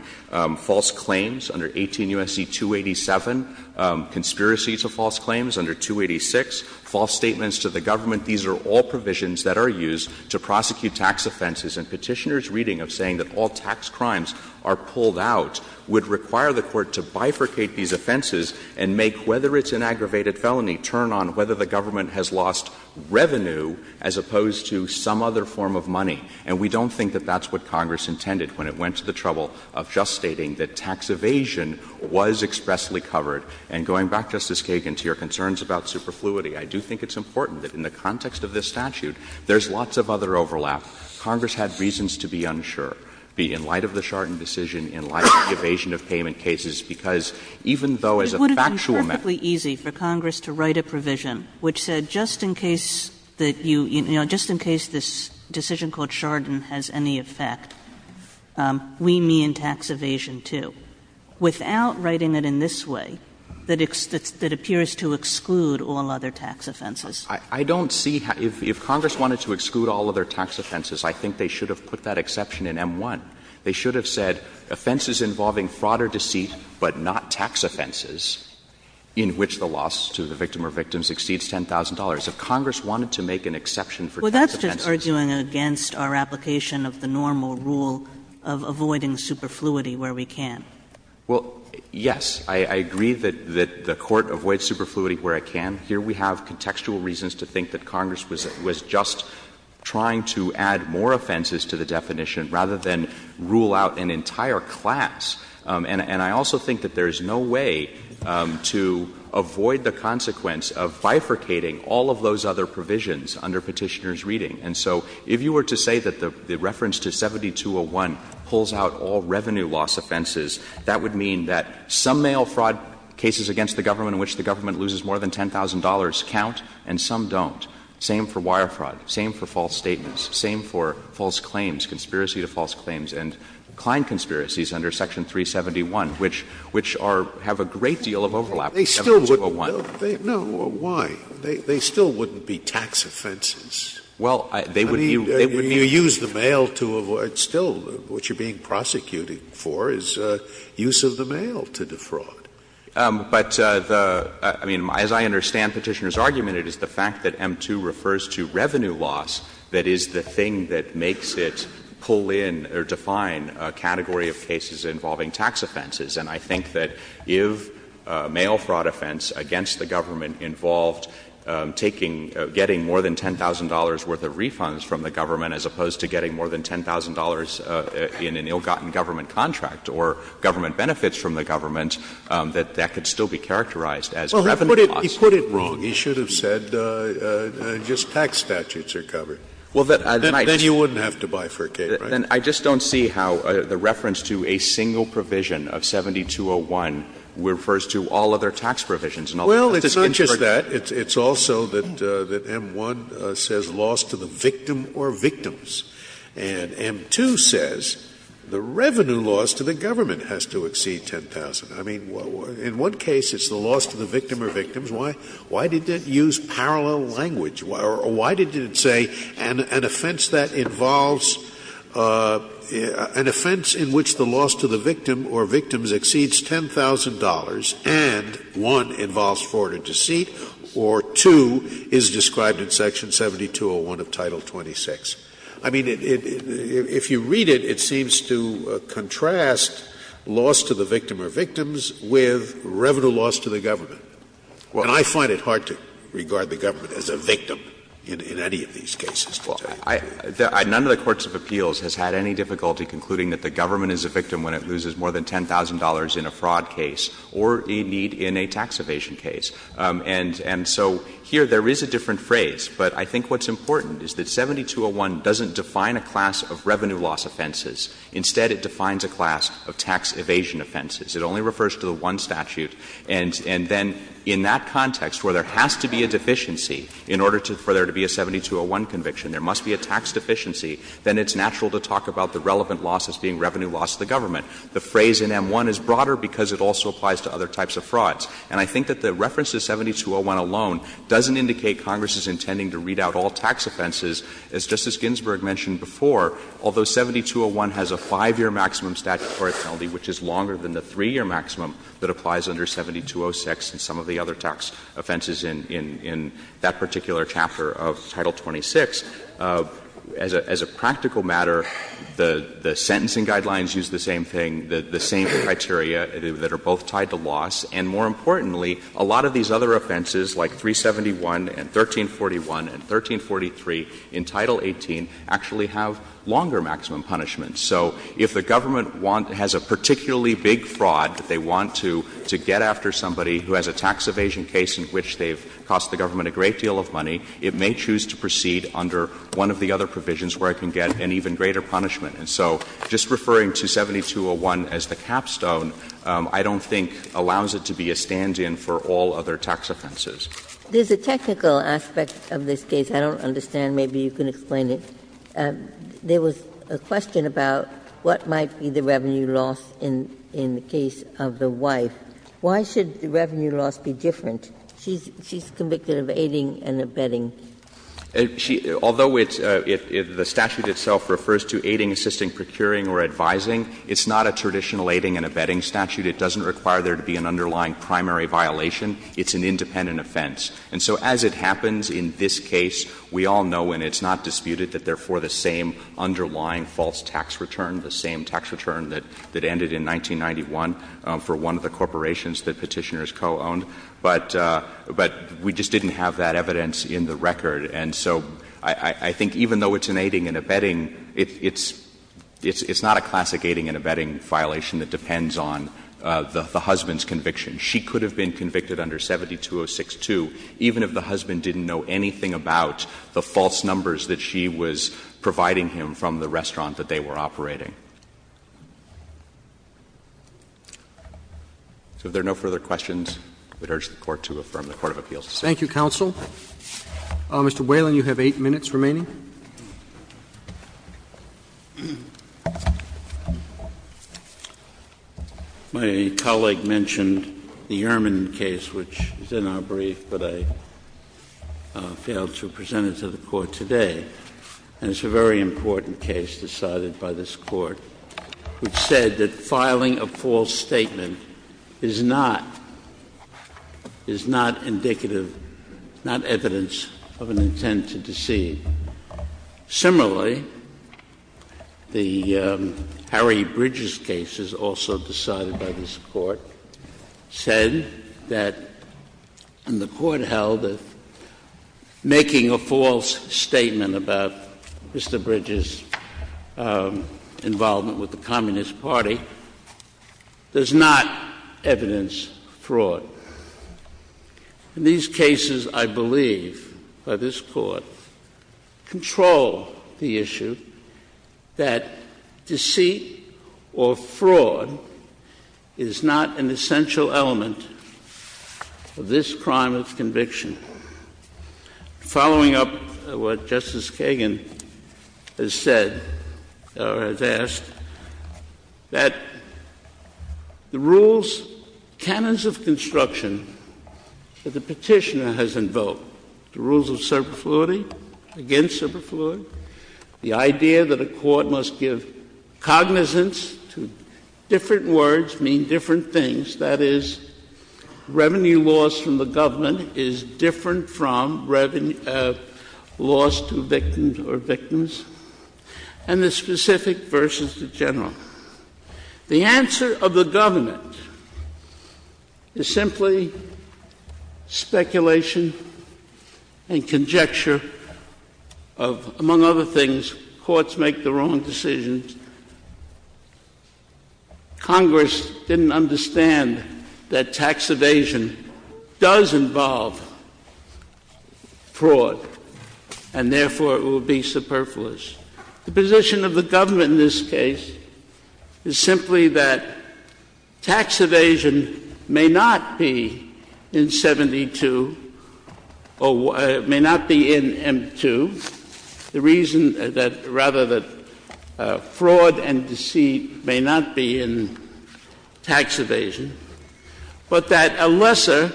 false claims under 18 U.S.C. 287, conspiracies of false claims under 286, false statements to the government. These are all provisions that are used to prosecute tax offenses. And Petitioner's reading of saying that all tax crimes are pulled out would require the Court to bifurcate these offenses and make, whether it's an aggravated felony, turn on whether the government has lost revenue as opposed to some other form of money. And we don't think that that's what Congress intended when it went to the trouble of just stating that tax evasion was expressly covered. And going back, Justice Kagan, to your concerns about superfluity, I do think it's important that in the context of this statute, there's lots of other overlap. Congress had reasons to be unsure, be in light of the Chardon decision, in light of the evasion of payment cases, because even though as a factual matter. It would be perfectly easy for Congress to write a provision which said just in case that you, you know, just in case this decision called Chardon has any effect, we mean tax evasion, too, without writing it in this way, that it's, that it appears to exclude all other tax offenses. I don't see how, if Congress wanted to exclude all other tax offenses, I think they should have put that exception in M-1. They should have said offenses involving fraud or deceit, but not tax offenses. In which the loss to the victim or victims exceeds $10,000. If Congress wanted to make an exception for tax offenses. Kagan. Well, that's just arguing against our application of the normal rule of avoiding superfluity where we can. Well, yes. I agree that the Court avoids superfluity where it can. Here we have contextual reasons to think that Congress was just trying to add more offenses to the definition rather than rule out an entire class. And I also think that there is no way to avoid the consequence of bifurcating all of those other provisions under Petitioner's reading. And so if you were to say that the reference to 7201 pulls out all revenue loss offenses, that would mean that some mail fraud cases against the government in which the government loses more than $10,000 count and some don't. Same for wire fraud. Same for false statements. Same for false claims, conspiracy to false claims. And Klein conspiracies under Section 371, which are — have a great deal of overlap with 7201. They still wouldn't — no, why? They still wouldn't be tax offenses. Well, they would be — I mean, you use the mail to avoid — still, what you're being prosecuting for is use of the mail to defraud. But the — I mean, as I understand Petitioner's argument, it is the fact that M-2 refers to revenue loss that is the thing that makes it pull in or define a category of cases involving tax offenses. And I think that if a mail fraud offense against the government involved taking — getting more than $10,000 worth of refunds from the government as opposed to getting more than $10,000 in an ill-gotten government contract or government benefits from the government, that that could still be characterized as revenue loss. Well, he put it wrong. He should have said just tax statutes are covered. Well, then I might — Then you wouldn't have to bifurcate, right? Then I just don't see how the reference to a single provision of 7201 refers to all other tax provisions and all the rest is inferred. Well, it's not just that. It's also that M-1 says loss to the victim or victims. And M-2 says the revenue loss to the government has to exceed $10,000. I mean, in one case it's the loss to the victim or victims. Why did it use parallel language? Or why did it say an offense that involves — an offense in which the loss to the victim or victims exceeds $10,000 and, one, involves fraud or deceit or, two, is described in Section 7201 of Title 26? I mean, if you read it, it seems to contrast loss to the victim or victims with revenue loss to the government. And I find it hard to regard the government as a victim in any of these cases. Well, none of the courts of appeals has had any difficulty concluding that the government is a victim when it loses more than $10,000 in a fraud case or a need in a tax evasion case. And so here there is a different phrase, but I think what's important is that 7201 doesn't define a class of revenue loss offenses. Instead, it defines a class of tax evasion offenses. It only refers to the one statute. And then in that context where there has to be a deficiency in order to — for there to be a 7201 conviction, there must be a tax deficiency, then it's natural to talk about the relevant loss as being revenue loss to the government. The phrase in M-1 is broader because it also applies to other types of frauds. And I think that the reference to 7201 alone doesn't indicate Congress is intending to read out all tax offenses. As Justice Ginsburg mentioned before, although 7201 has a 5-year maximum statute for a felony, which is longer than the 3-year maximum that applies under 7206 and some of the other tax offenses in that particular chapter of Title 26, as a practical matter, the sentencing guidelines use the same thing, the same criteria that are both tied to loss. And more importantly, a lot of these other offenses, like 371 and 1341 and 1343 in Title 18, actually have longer maximum punishments. So if the government want — has a particularly big fraud that they want to get after somebody who has a tax evasion case in which they've cost the government a great deal of money, it may choose to proceed under one of the other provisions where it can get an even greater punishment. And so just referring to 7201 as the capstone, I don't think, allows it to be a stand-in for all other tax offenses. There's a technical aspect of this case I don't understand. Maybe you can explain it. There was a question about what might be the revenue loss in the case of the wife. Why should the revenue loss be different? She's convicted of aiding and abetting. She — although it's — the statute itself refers to aiding, assisting, procuring or advising, it's not a traditional aiding and abetting statute. It doesn't require there to be an underlying primary violation. It's an independent offense. And so as it happens in this case, we all know and it's not disputed that therefore the same underlying false tax return, the same tax return that ended in 1991 for one of the corporations that Petitioners co-owned, but we just didn't have that evidence in the record. And so I think even though it's an aiding and abetting, it's not a classic aiding and abetting violation that depends on the husband's conviction. She could have been convicted under 72062 even if the husband didn't know anything about the false numbers that she was providing him from the restaurant that they were operating. So if there are no further questions, I would urge the Court to affirm the court of appeals. Roberts. Thank you, counsel. Mr. Whalen, you have 8 minutes remaining. My colleague mentioned the Ehrman case, which is in our brief, but I failed to get to it, but it's a very important case decided by this Court, which said that filing a false statement is not, is not indicative, not evidence of an intent to deceive. Similarly, the Harry Bridges case is also decided by this Court, said that, and the seeking a false statement about Mr. Bridges' involvement with the Communist Party does not evidence fraud. In these cases, I believe by this Court, control the issue that deceit or fraud is not an essential element of this crime of conviction. Following up what Justice Kagan has said, or has asked, that the rules, canons of construction that the Petitioner has invoked, the rules of superfluity, against superfluity, the idea that a court must give cognizance to different words, mean different things, that is, revenue loss from the government is different from revenue loss to victims, and the specific versus the general. The answer of the government is simply speculation and conjecture of, among other things, In this case, courts make the wrong decisions. Congress didn't understand that tax evasion does involve fraud, and therefore, it will be superfluous. The position of the government in this case is simply that tax evasion may not be in M-2, the reason that, rather, that fraud and deceit may not be in tax evasion, but that a lesser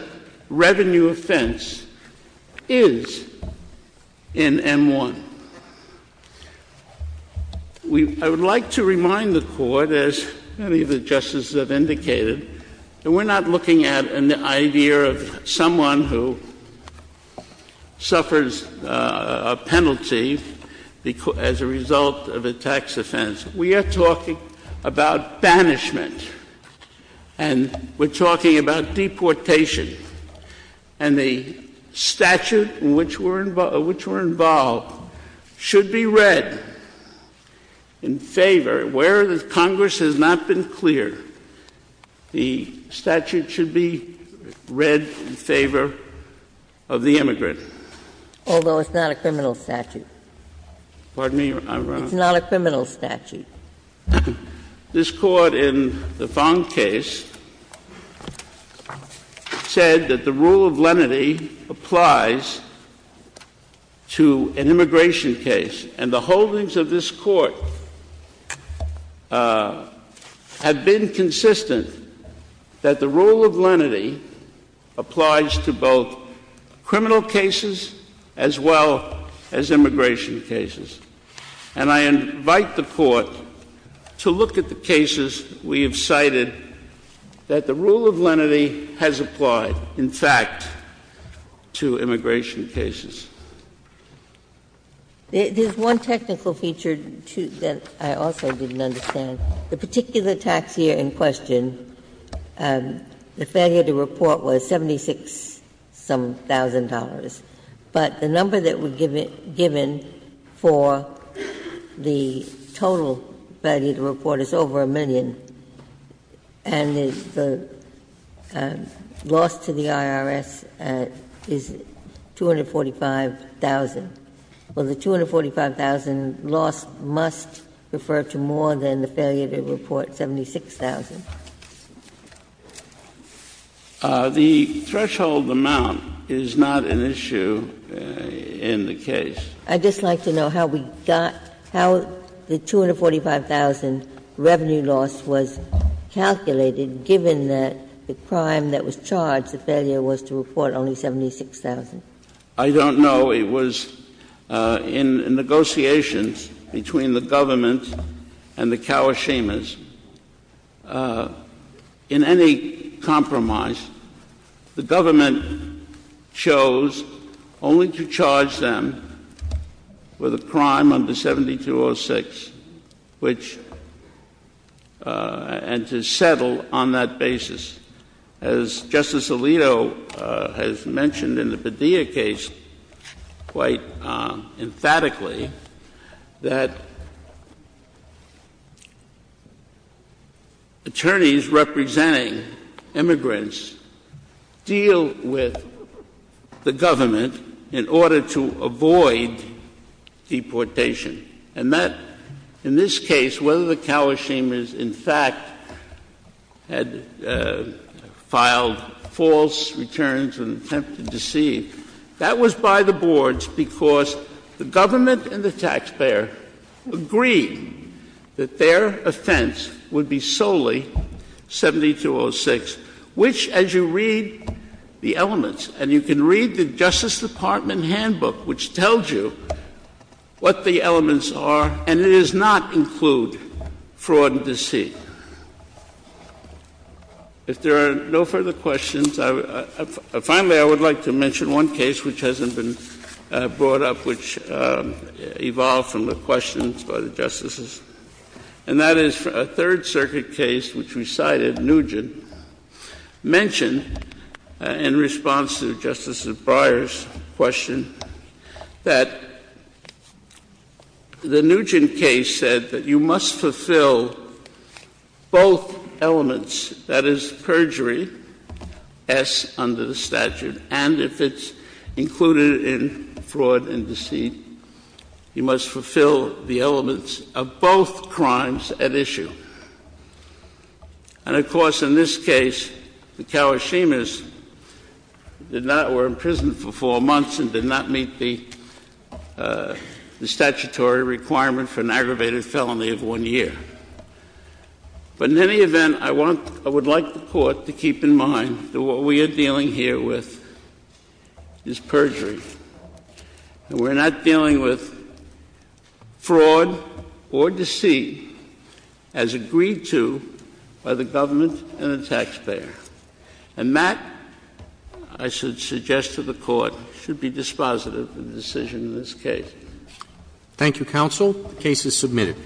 I would like to remind the Court, as many of the Justices have indicated, that we're not looking at an idea of someone who suffers a penalty as a result of a tax offense. We are talking about banishment, and we're talking about deportation, and the statute in which we're involved should be read in favor, where the Congress has not been clear, the statute should be read in favor of the immigrant. Although it's not a criminal statute. Pardon me, Your Honor? It's not a criminal statute. This Court, in the Fong case, said that the rule of lenity applies to an immigration case. And the holdings of this Court have been consistent that the rule of lenity applies to both criminal cases as well as immigration cases. And I invite the Court to look at the cases we have cited that the rule of lenity has applied, in fact, to immigration cases. There's one technical feature, too, that I also didn't understand. The particular tax year in question, the failure to report was $76-some-thousand. But the number that we're given for the total failure to report is over a million. And the loss to the IRS is $245,000. Well, the $245,000 loss must refer to more than the failure to report $76,000. The threshold amount is not an issue in the case. I'd just like to know how we got the $245,000 revenue loss was calculated, given that the crime that was charged, the failure was to report only $76,000. I don't know. It was in negotiations between the government and the Kawashimas. In any compromise, the government chose only to charge them with a crime under 7206, which — and to settle on that basis. As Justice Alito has mentioned in the Padilla case quite emphatically, that attorneys representing immigrants deal with the government in order to avoid deportation. And that, in this case, whether the Kawashimas, in fact, had filed false returns and attempted to cede, that was by the boards because the government and the taxpayer agreed that their offense would be solely 7206, which, as you read the elements — and you can read the Justice Department handbook, which tells you what the elements are, and it does not include fraud and deceit. If there are no further questions, I would — finally, I would like to mention one case which hasn't been brought up, which evolved from the questions by the Justices, and that is a Third Circuit case, which we cited, Nugent, mentioned in response to Justice Breyer's question that the Nugent case said that you must fulfill both elements — that is, perjury, S under the statute, and if it's included in fraud and deceit, you must fulfill the elements of both crimes at issue. And, of course, in this case, the Kawashimas did not — were imprisoned for four months and did not meet the statutory requirement for an aggravated felony of one year. But in any event, I want — I would like the Court to keep in mind that what we are dealing here with is perjury, and we're not dealing with fraud or deceit as agreed to by the government and the taxpayer. And that, I should suggest to the Court, should be dispositive of the decision in this case. Roberts. Thank you, counsel. The case is submitted.